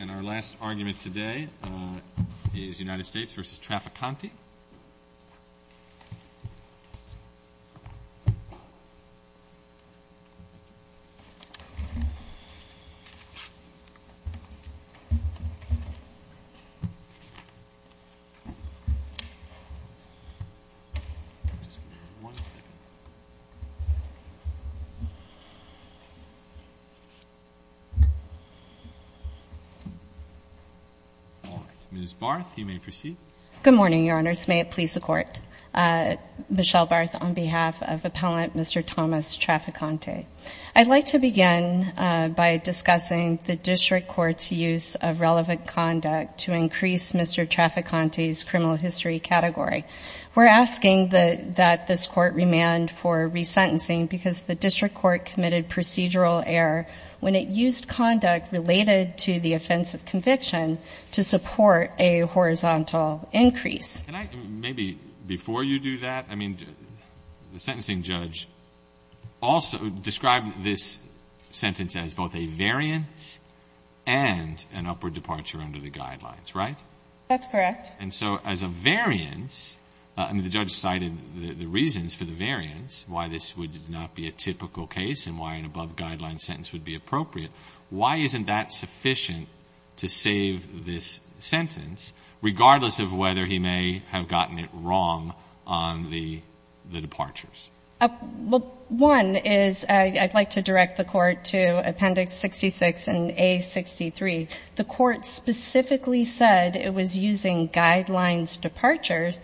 And our last argument today is United States v. Traficante. Ms. Barth, you may proceed. Good morning, Your Honors. May it please the Court. Michelle Barth on behalf of Appellant Mr. Thomas Traficante. I'd like to begin by discussing the District Court's use of relevant conduct to increase Mr. Traficante's criminal history category. We're asking that this Court remand for resentencing because the District Court committed procedural error when it used conduct related to the offense of conviction to support a horizontal increase. Can I maybe, before you do that, I mean, the sentencing judge also described this sentence as both a variance and an upward departure under the guidelines, right? That's correct. And so as a variance, I mean, the judge cited the reasons for the variance, why this would not be a typical case and why an above-guideline sentence would be appropriate. Why isn't that sufficient to save this sentence, regardless of whether he may have gotten it wrong on the departures? Well, one is I'd like to direct the Court to Appendix 66 and A63. The Court specifically said it was using guidelines departure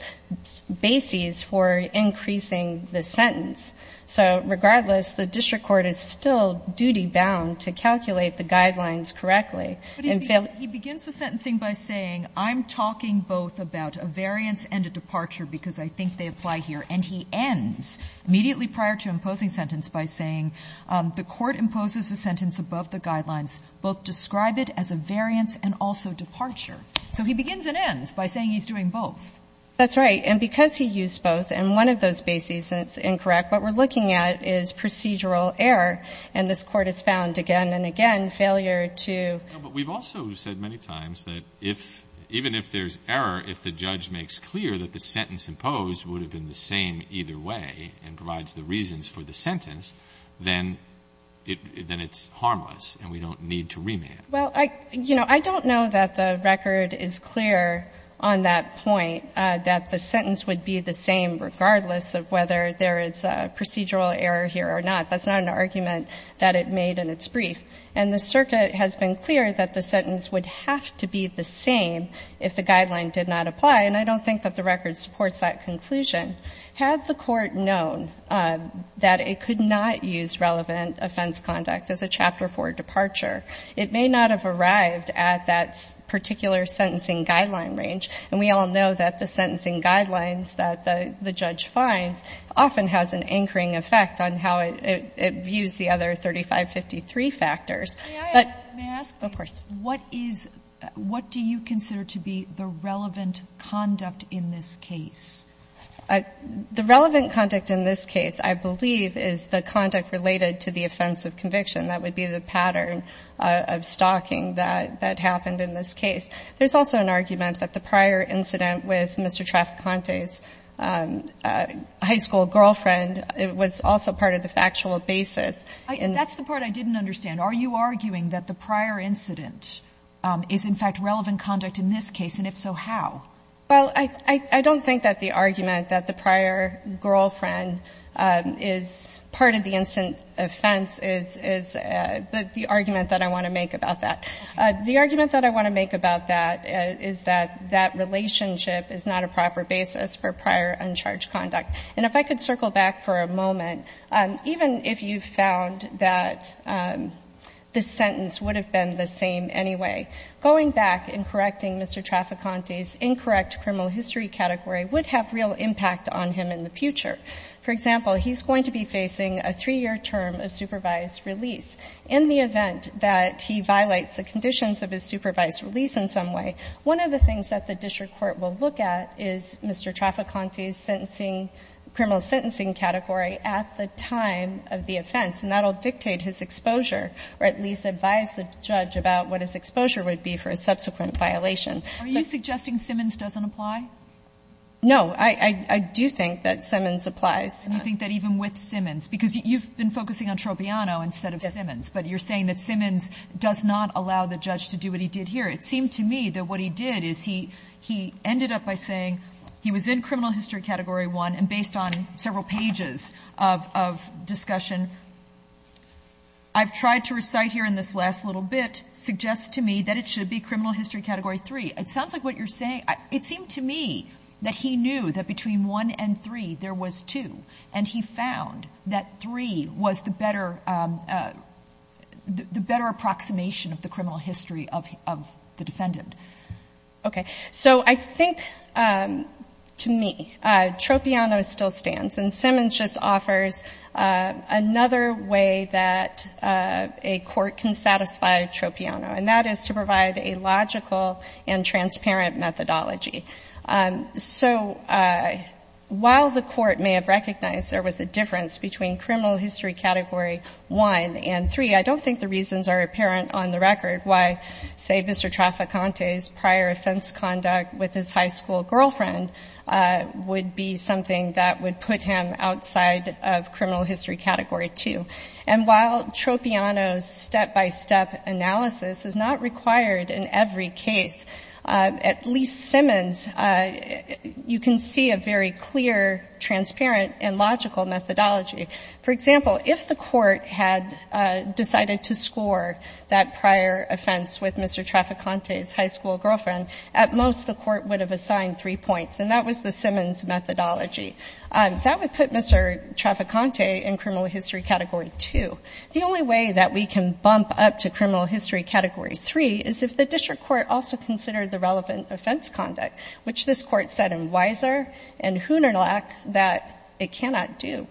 bases for increasing the sentence. So regardless, the District Court is still duty-bound to calculate the guidelines correctly. But he begins the sentencing by saying, I'm talking both about a variance and a departure because I think they apply here. And he ends immediately prior to imposing sentence by saying, the Court imposes a sentence above the guidelines, both describe it as a variance and also departure. So he begins and ends by saying he's doing both. That's right. And because he used both and one of those bases is incorrect, what we're looking at is procedural error. And this Court has found again and again failure to ---- But we've also said many times that if, even if there's error, if the judge makes clear that the sentence imposed would have been the same either way and provides the reasons for the sentence, then it's harmless and we don't need to remand. Well, I don't know that the record is clear on that point, that the sentence would be the same regardless of whether there is procedural error here or not. That's not an argument that it made in its brief. And the circuit has been clear that the sentence would have to be the same if the length of the record supports that conclusion. Had the Court known that it could not use relevant offense conduct as a Chapter 4 departure, it may not have arrived at that particular sentencing guideline range. And we all know that the sentencing guidelines that the judge finds often has an anchoring effect on how it views the other 3553 factors. But of course ---- The relevant conduct in this case, I believe, is the conduct related to the offense of conviction. That would be the pattern of stalking that happened in this case. There's also an argument that the prior incident with Mr. Traficante's high school girlfriend, it was also part of the factual basis. That's the part I didn't understand. Are you arguing that the prior incident is, in fact, relevant conduct in this case, and if so, how? Well, I don't think that the argument that the prior girlfriend is part of the instant offense is the argument that I want to make about that. The argument that I want to make about that is that that relationship is not a proper basis for prior uncharged conduct. And if I could circle back for a moment, even if you found that the sentence would have been the same anyway, going back and correcting Mr. Traficante's incorrect criminal history category would have real impact on him in the future. For example, he's going to be facing a 3-year term of supervised release. In the event that he violates the conditions of his supervised release in some way, one of the things that the district court will look at is Mr. Traficante's criminal sentencing category at the time of the offense, and that will dictate his exposure, or at least advise the judge about what his exposure would be for a subsequent violation. Are you suggesting Simmons doesn't apply? No. I do think that Simmons applies. And you think that even with Simmons? Because you've been focusing on Tropiano instead of Simmons. Yes. But you're saying that Simmons does not allow the judge to do what he did here. It seemed to me that what he did is he ended up by saying he was in criminal history category 1, and based on several pages of discussion, I've tried to recite here in this last little bit, suggests to me that it should be criminal history category 3. It sounds like what you're saying, it seemed to me that he knew that between 1 and 3, there was 2, and he found that 3 was the better approximation of the criminal history of the defendant. Okay. So I think, to me, Tropiano still stands. And Simmons just offers another way that a court can satisfy Tropiano, and that is to provide a logical and transparent methodology. So while the court may have recognized there was a difference between criminal history category 1 and 3, I don't think the reasons are apparent on the record why, say, Mr. Traficante's prior offense conduct with his high school girlfriend would be something that would put him outside of criminal history category 2. And while Tropiano's step-by-step analysis is not required in every case, at least Simmons, you can see a very clear, transparent, and logical methodology. For example, if the court had decided to score that prior offense with Mr. Traficante's high school girlfriend, at most the court would have assigned 3 points, and that was the Simmons methodology. That would put Mr. Traficante in criminal history category 2. The only way that we can bump up to criminal history category 3 is if the district court also considered the relevant offense conduct, which this Court said in Weiser and Hoonerlach that it cannot do.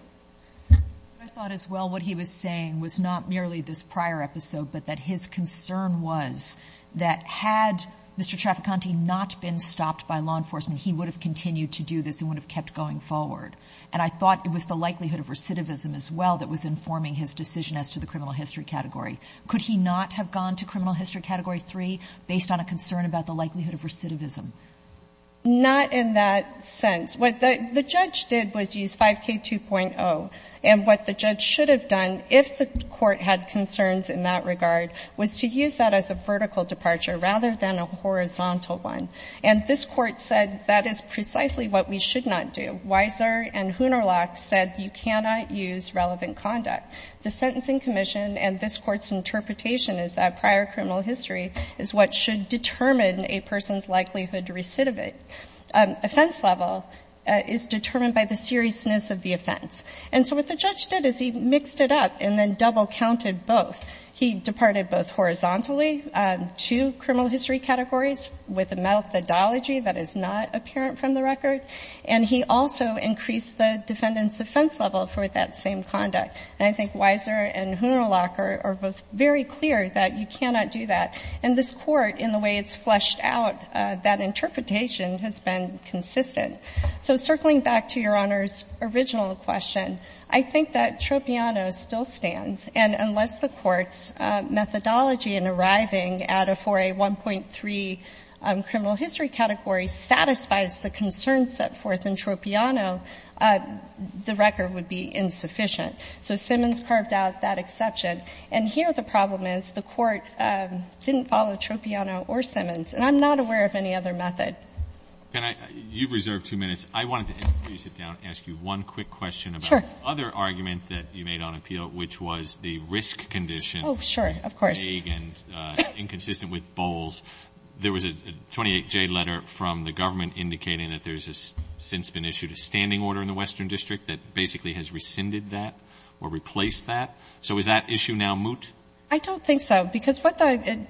I thought as well what he was saying was not merely this prior episode, but that his concern was that had Mr. Traficante not been stopped by law enforcement, he would have continued to do this and would have kept going forward. And I thought it was the likelihood of recidivism as well that was informing his decision as to the criminal history category. Could he not have gone to criminal history category 3 based on a concern about the likelihood of recidivism? Not in that sense. What the judge did was use 5K2.0. And what the judge should have done, if the court had concerns in that regard, was to use that as a vertical departure rather than a horizontal one. And this Court said that is precisely what we should not do. Weiser and Hoonerlach said you cannot use relevant conduct. The Sentencing Commission and this Court's interpretation is that prior criminal history is what should determine a person's likelihood to recidivate. Offense level is determined by the seriousness of the offense. And so what the judge did is he mixed it up and then double counted both. He departed both horizontally to criminal history categories with a methodology that is not apparent from the record, and he also increased the defendant's offense level for that same conduct. And I think Weiser and Hoonerlach are both very clear that you cannot do that. And this Court, in the way it's fleshed out, that interpretation has been consistent. So circling back to Your Honor's original question, I think that Troppiano still stands. And unless the Court's methodology in arriving at a 4A1.3 criminal history category satisfies the concerns set forth in Troppiano, the record would be insufficient. So Simmons carved out that exception. And here the problem is the Court didn't follow Troppiano or Simmons. And I'm not aware of any other method. You've reserved two minutes. I wanted to, before you sit down, ask you one quick question about the other argument that you made on appeal, which was the risk condition. Oh, sure. Of course. Vague and inconsistent with Bowles. There was a 28J letter from the government indicating that there's since been issued a standing order in the Western District that basically has rescinded that or replaced that. So is that issue now moot? I don't think so. Because what the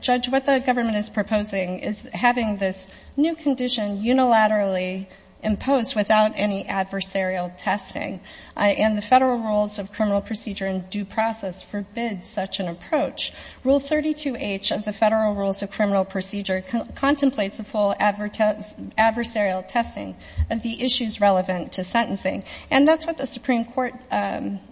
government is proposing is having this new condition unilaterally imposed without any adversarial testing. And the Federal Rules of Criminal Procedure in due process forbids such an approach. Rule 32H of the Federal Rules of Criminal Procedure contemplates a full adversarial testing of the issues relevant to sentencing. And that's what the Supreme Court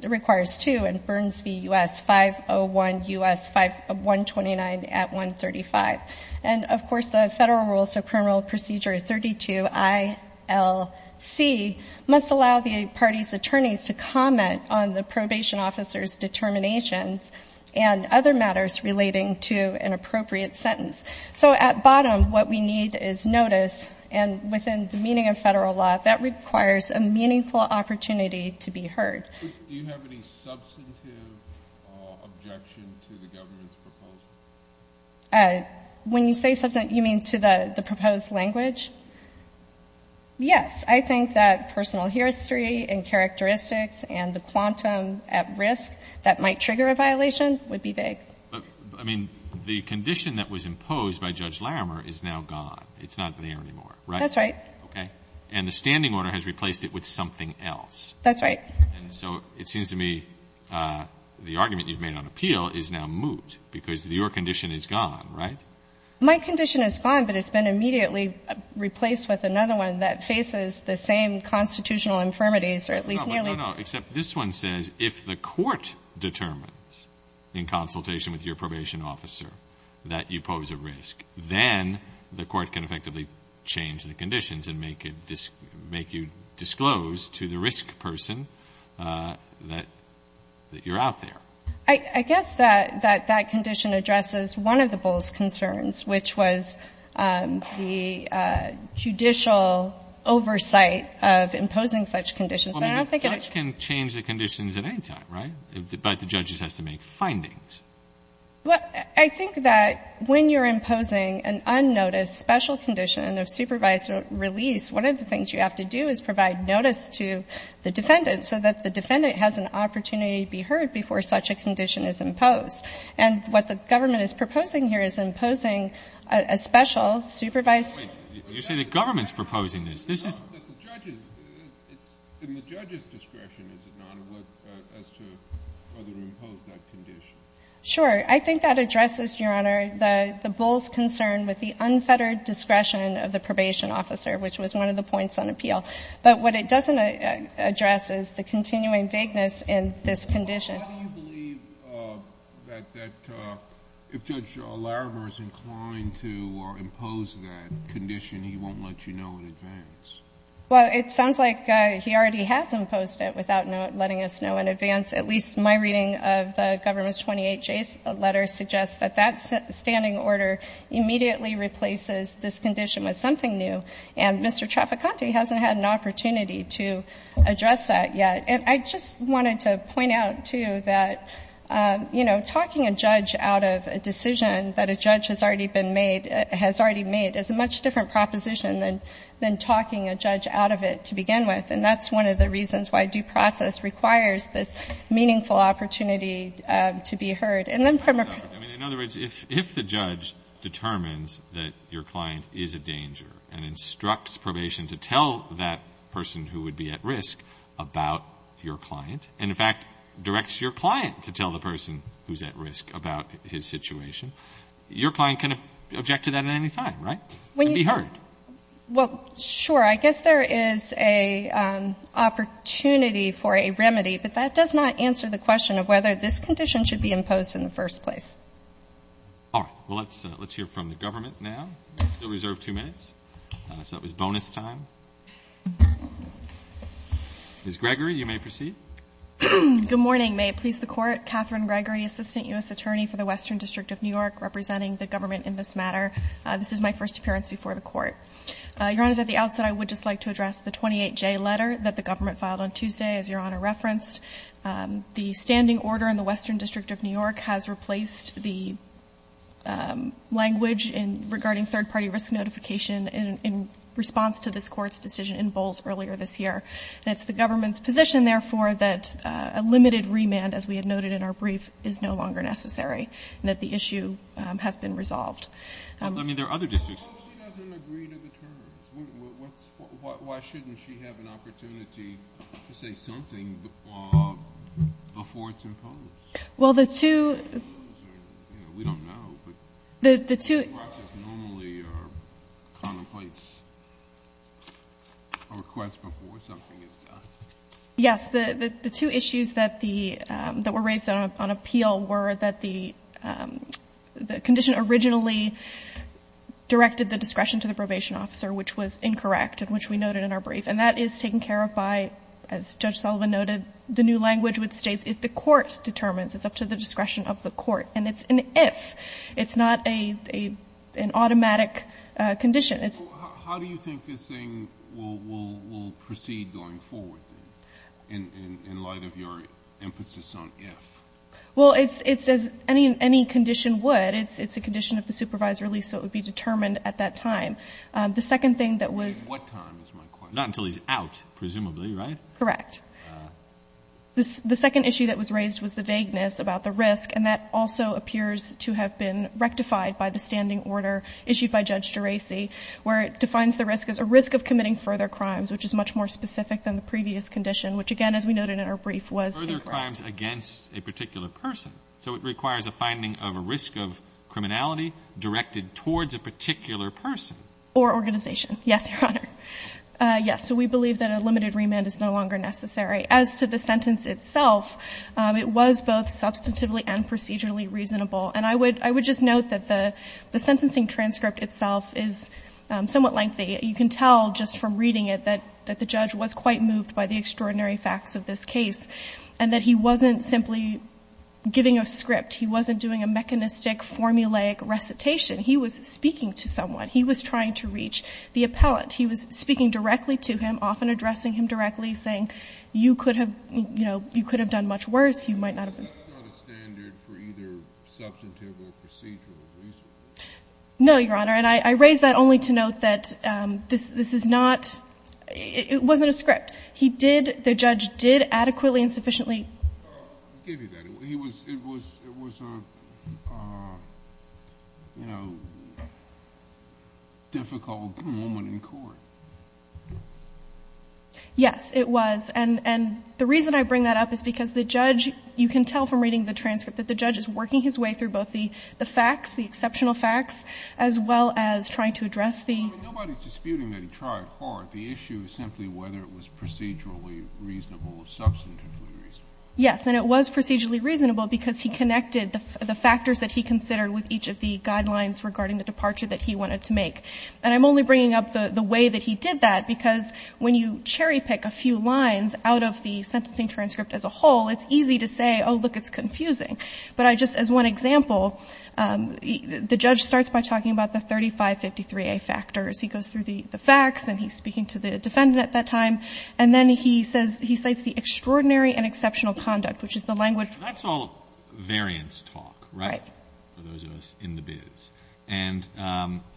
requires, too, in Burns v. U.S. 501 U.S. 129 at 135. And, of course, the Federal Rules of Criminal Procedure 32ILC must allow the parties' attorneys to comment on the probation officer's determinations and other matters relating to an appropriate sentence. So at bottom, what we need is notice. And within the meaning of Federal law, that requires a meaningful opportunity to be heard. Do you have any substantive objection to the government's proposal? When you say substantive, you mean to the proposed language? Yes. I think that personal history and characteristics and the quantum at risk that might trigger a violation would be vague. But, I mean, the condition that was imposed by Judge Larimer is now gone. It's not there anymore, right? That's right. Okay. And the standing order has replaced it with something else. That's right. And so it seems to me the argument you've made on appeal is now moot, because your condition is gone, right? My condition is gone, but it's been immediately replaced with another one that faces the same constitutional infirmities, or at least nearly. No, no, no, except this one says if the court determines in consultation with your probation officer that you pose a risk, then the court can effectively change the conditions and make you disclose to the risk person that you're out there. I guess that that condition addresses one of the bull's concerns, which was the judicial oversight of imposing such conditions. But I don't think it is. Well, I mean, the judge can change the conditions at any time, right? But the judge has to make findings. Well, I think that when you're imposing an unnoticed special condition of supervised release, one of the things you have to do is provide notice to the defendant so that the defendant has an opportunity to be heard before such a condition is imposed. And what the government is proposing here is imposing a special supervised condition. You say the government is proposing this. It's not that the judge is. It's in the judge's discretion, is it not, as to whether to impose that condition? Sure. I think that addresses, Your Honor, the bull's concern with the unfettered discretion of the probation officer, which was one of the points on appeal. But what it doesn't address is the continuing vagueness in this condition. Why do you believe that if Judge Larimer is inclined to impose that condition, he won't let you know in advance? Well, it sounds like he already has imposed it without letting us know in advance. At least my reading of the government's 28J letter suggests that that standing order immediately replaces this condition with something new. And Mr. Trafficante hasn't had an opportunity to address that yet. And I just wanted to point out, too, that, you know, talking a judge out of a decision that a judge has already been made, has already made, is a much different proposition than talking a judge out of it to begin with. And that's one of the reasons why due process requires this meaningful opportunity to be heard. And then from a prisoner's point of view. I mean, in other words, if the judge determines that your client is a danger and instructs probation to tell that person who would be at risk about your client, and, in fact, directs your client to tell the person who's at risk about his situation, your client can object to that at any time, right? And be heard. Well, sure. I guess there is an opportunity for a remedy. But that does not answer the question of whether this condition should be imposed in the first place. All right. Well, let's hear from the government now. We still reserve two minutes. So that was bonus time. Ms. Gregory, you may proceed. Good morning. May it please the Court. Catherine Gregory, Assistant U.S. Attorney for the Western District of New York, representing the government in this matter. This is my first appearance before the Court. Your Honor, at the outset, I would just like to address the 28J letter that the government filed on Tuesday, as Your Honor referenced. The standing order in the Western District of New York has replaced the language regarding third-party risk notification in response to this Court's decision in Bowles earlier this year. And it's the government's position, therefore, that a limited remand, as we had noted in our brief, is no longer necessary and that the issue has been resolved. I mean, there are other districts. Well, she doesn't agree to the terms. Why shouldn't she have an opportunity to say something before it's imposed? Well, the two — We don't know. The process normally contemplates a request before something is done. Yes. The two issues that the — that were raised on appeal were that the condition originally directed the discretion to the probation officer, which was incorrect and which we noted in our brief. And that is taken care of by, as Judge Sullivan noted, the new language which states if the court determines, it's up to the discretion of the court. And it's an if. It's not an automatic condition. How do you think this thing will proceed going forward, then, in light of your emphasis on if? Well, it's as any condition would. It's a condition of the supervisory lease, so it would be determined at that time. The second thing that was — At what time is my question. Not until he's out, presumably, right? Correct. The second issue that was raised was the vagueness about the risk. And that also appears to have been rectified by the standing order issued by Judge Geraci, where it defines the risk as a risk of committing further crimes, which is much more specific than the previous condition, which, again, as we noted in our brief, was incorrect. Further crimes against a particular person. So it requires a finding of a risk of criminality directed towards a particular person. Or organization. Yes, Your Honor. Yes. So we believe that a limited remand is no longer necessary. As to the sentence itself, it was both substantively and procedurally reasonable. And I would just note that the sentencing transcript itself is somewhat lengthy. You can tell just from reading it that the judge was quite moved by the extraordinary facts of this case, and that he wasn't simply giving a script. He wasn't doing a mechanistic, formulaic recitation. He was speaking to someone. He was trying to reach the appellant. He was speaking directly to him, often addressing him directly, saying, you could have, you know, you could have done much worse. You might not have been. But that's not a standard for either substantive or procedural reason. No, Your Honor. And I raise that only to note that this is not, it wasn't a script. He did, the judge did adequately and sufficiently. I'll give you that. He was, it was, it was a, you know, difficult moment in court. Yes, it was. And the reason I bring that up is because the judge, you can tell from reading the transcript, that the judge is working his way through both the facts, the exceptional facts, as well as trying to address the. Nobody is disputing that he tried hard. The issue is simply whether it was procedurally reasonable or substantively reasonable. Yes, and it was procedurally reasonable because he connected the factors that he considered with each of the guidelines regarding the departure that he wanted to make. And I'm only bringing up the way that he did that because when you cherry pick a few lines out of the sentencing transcript as a whole, it's easy to say, oh, look, it's confusing. But I just, as one example, the judge starts by talking about the 3553A factors. He goes through the facts and he's speaking to the defendant at that time. And then he says, he cites the extraordinary and exceptional conduct, which is the language. That's all variance talk, right? Right. For those of us in the biz. And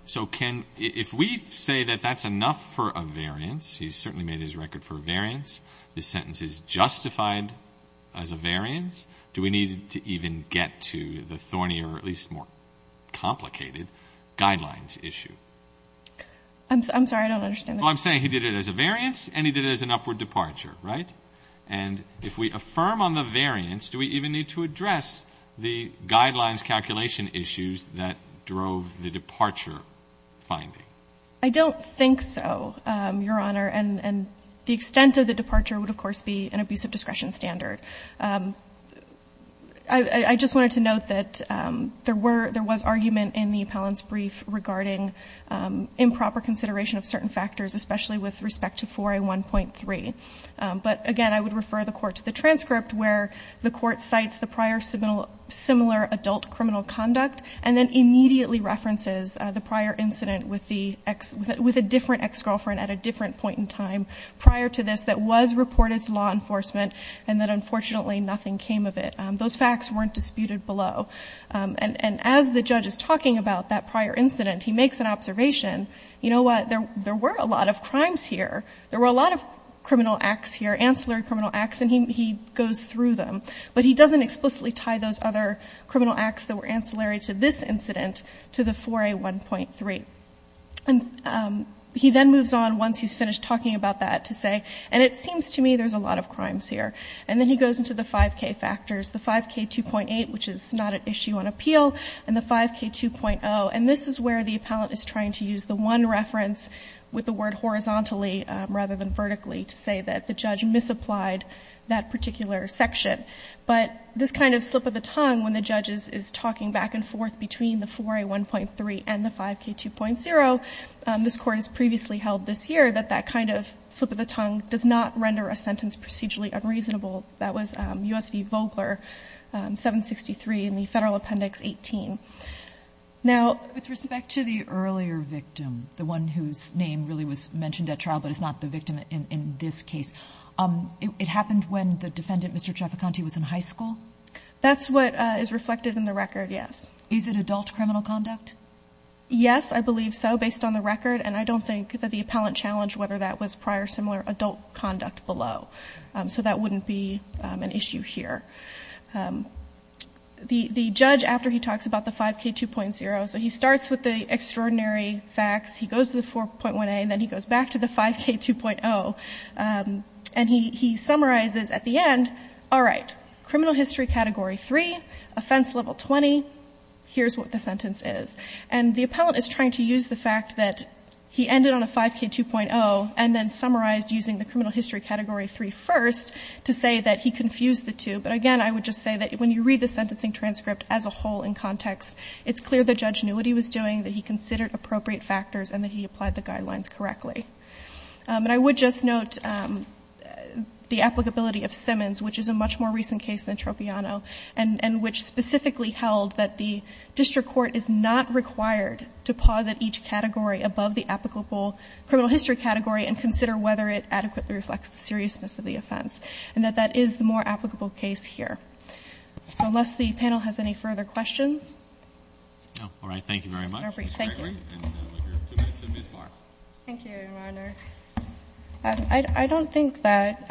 so can, if we say that that's enough for a variance, he certainly made his record for a variance. This sentence is justified as a variance. Do we need to even get to the thorny or at least more complicated guidelines issue? I'm sorry. I don't understand that. Well, I'm saying he did it as a variance and he did it as an upward departure, right? And if we affirm on the variance, do we even need to address the guidelines calculation issues that drove the departure finding? I don't think so, Your Honor. And the extent of the departure would, of course, be an abusive discretion standard. I just wanted to note that there were, there was argument in the appellant's brief regarding improper consideration of certain factors, especially with respect to 4A1.3. But, again, I would refer the Court to the transcript where the Court cites the prior similar adult criminal conduct and then immediately references the prior incident with the ex, with a different ex-girlfriend at a different point in time prior to this that was reported to law enforcement and that, unfortunately, nothing came of it. Those facts weren't disputed below. And as the judge is talking about that prior incident, he makes an observation, you know what? There were a lot of crimes here. There were a lot of criminal acts here, ancillary criminal acts, and he goes through them. But he doesn't explicitly tie those other criminal acts that were ancillary to this incident to the 4A1.3. And he then moves on once he's finished talking about that to say, and it seems to me there's a lot of crimes here. And then he goes into the 5K factors. The 5K2.8, which is not an issue on appeal, and the 5K2.0. And this is where the appellant is trying to use the one reference with the word horizontally rather than vertically to say that the judge misapplied that particular section. But this kind of slip of the tongue when the judge is talking back and forth between the 4A1.3 and the 5K2.0, this Court has previously held this year that that kind of slip of the tongue does not render a sentence procedurally unreasonable. That was U.S. v. Vogler, 763 in the Federal Appendix 18. Now ---- Kagan. With respect to the earlier victim, the one whose name really was mentioned at trial but is not the victim in this case, it happened when the defendant, Mr. Traficante, was in high school? That's what is reflected in the record, yes. Is it adult criminal conduct? Yes, I believe so, based on the record. And I don't think that the appellant challenged whether that was prior similar adult conduct below. So that wouldn't be an issue here. The judge, after he talks about the 5K2.0, so he starts with the extraordinary facts. He goes to the 4.1A and then he goes back to the 5K2.0. And he summarizes at the end, all right, criminal history category 3, offense level 20, here's what the sentence is. And the appellant is trying to use the fact that he ended on a 5K2.0 and then 5K3.0 first to say that he confused the two. But again, I would just say that when you read the sentencing transcript as a whole in context, it's clear the judge knew what he was doing, that he considered appropriate factors, and that he applied the guidelines correctly. And I would just note the applicability of Simmons, which is a much more recent case than Tropiano, and which specifically held that the district court is not required to posit each category above the applicable criminal history category and consider whether it adequately reflects the seriousness of the offense, and that that is the more applicable case here. So unless the panel has any further questions. MR. GARRETT. No. Thank you very much, Ms. Gregory. MS. GREGORY. MR. GARRETT. And we have two minutes of Ms. Clark. MS. CLARK. Thank you, Your Honor. I don't think that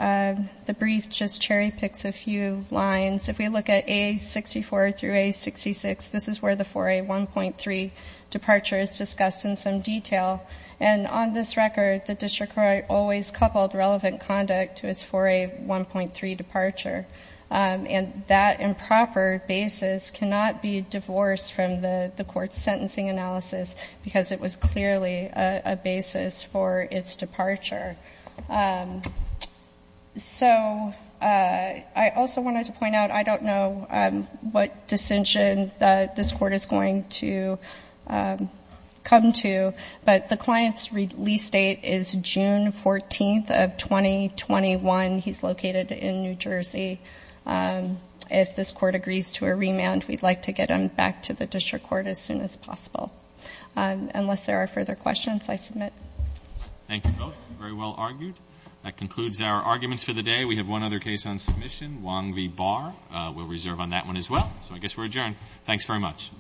the brief just cherry-picks a few lines. If we look at A64 through A66, this is where the 4A1.3 departure is discussed in some detail. And on this record, the district court always coupled relevant conduct to its 4A1.3 departure. And that improper basis cannot be divorced from the Court's sentencing analysis because it was clearly a basis for its departure. So I also wanted to point out, I don't know what distinction this Court is going to come to, but the client's release date is June 14th of 2021. He's located in New Jersey. If this Court agrees to a remand, we'd like to get him back to the district court as soon as possible. Unless there are further questions, I submit. MR. GARRETT. Thank you both. Very well argued. That concludes our arguments for the day. We have one other case on submission, Wong v. Barr. We'll reserve on that one as well. So I guess we're adjourned. Thanks very much. MS. Thank you, Mr. Chairman. I'll stand adjourned. MS. NULAND. Okay. Good job. Thank you. Thank you. Good job. Thank you.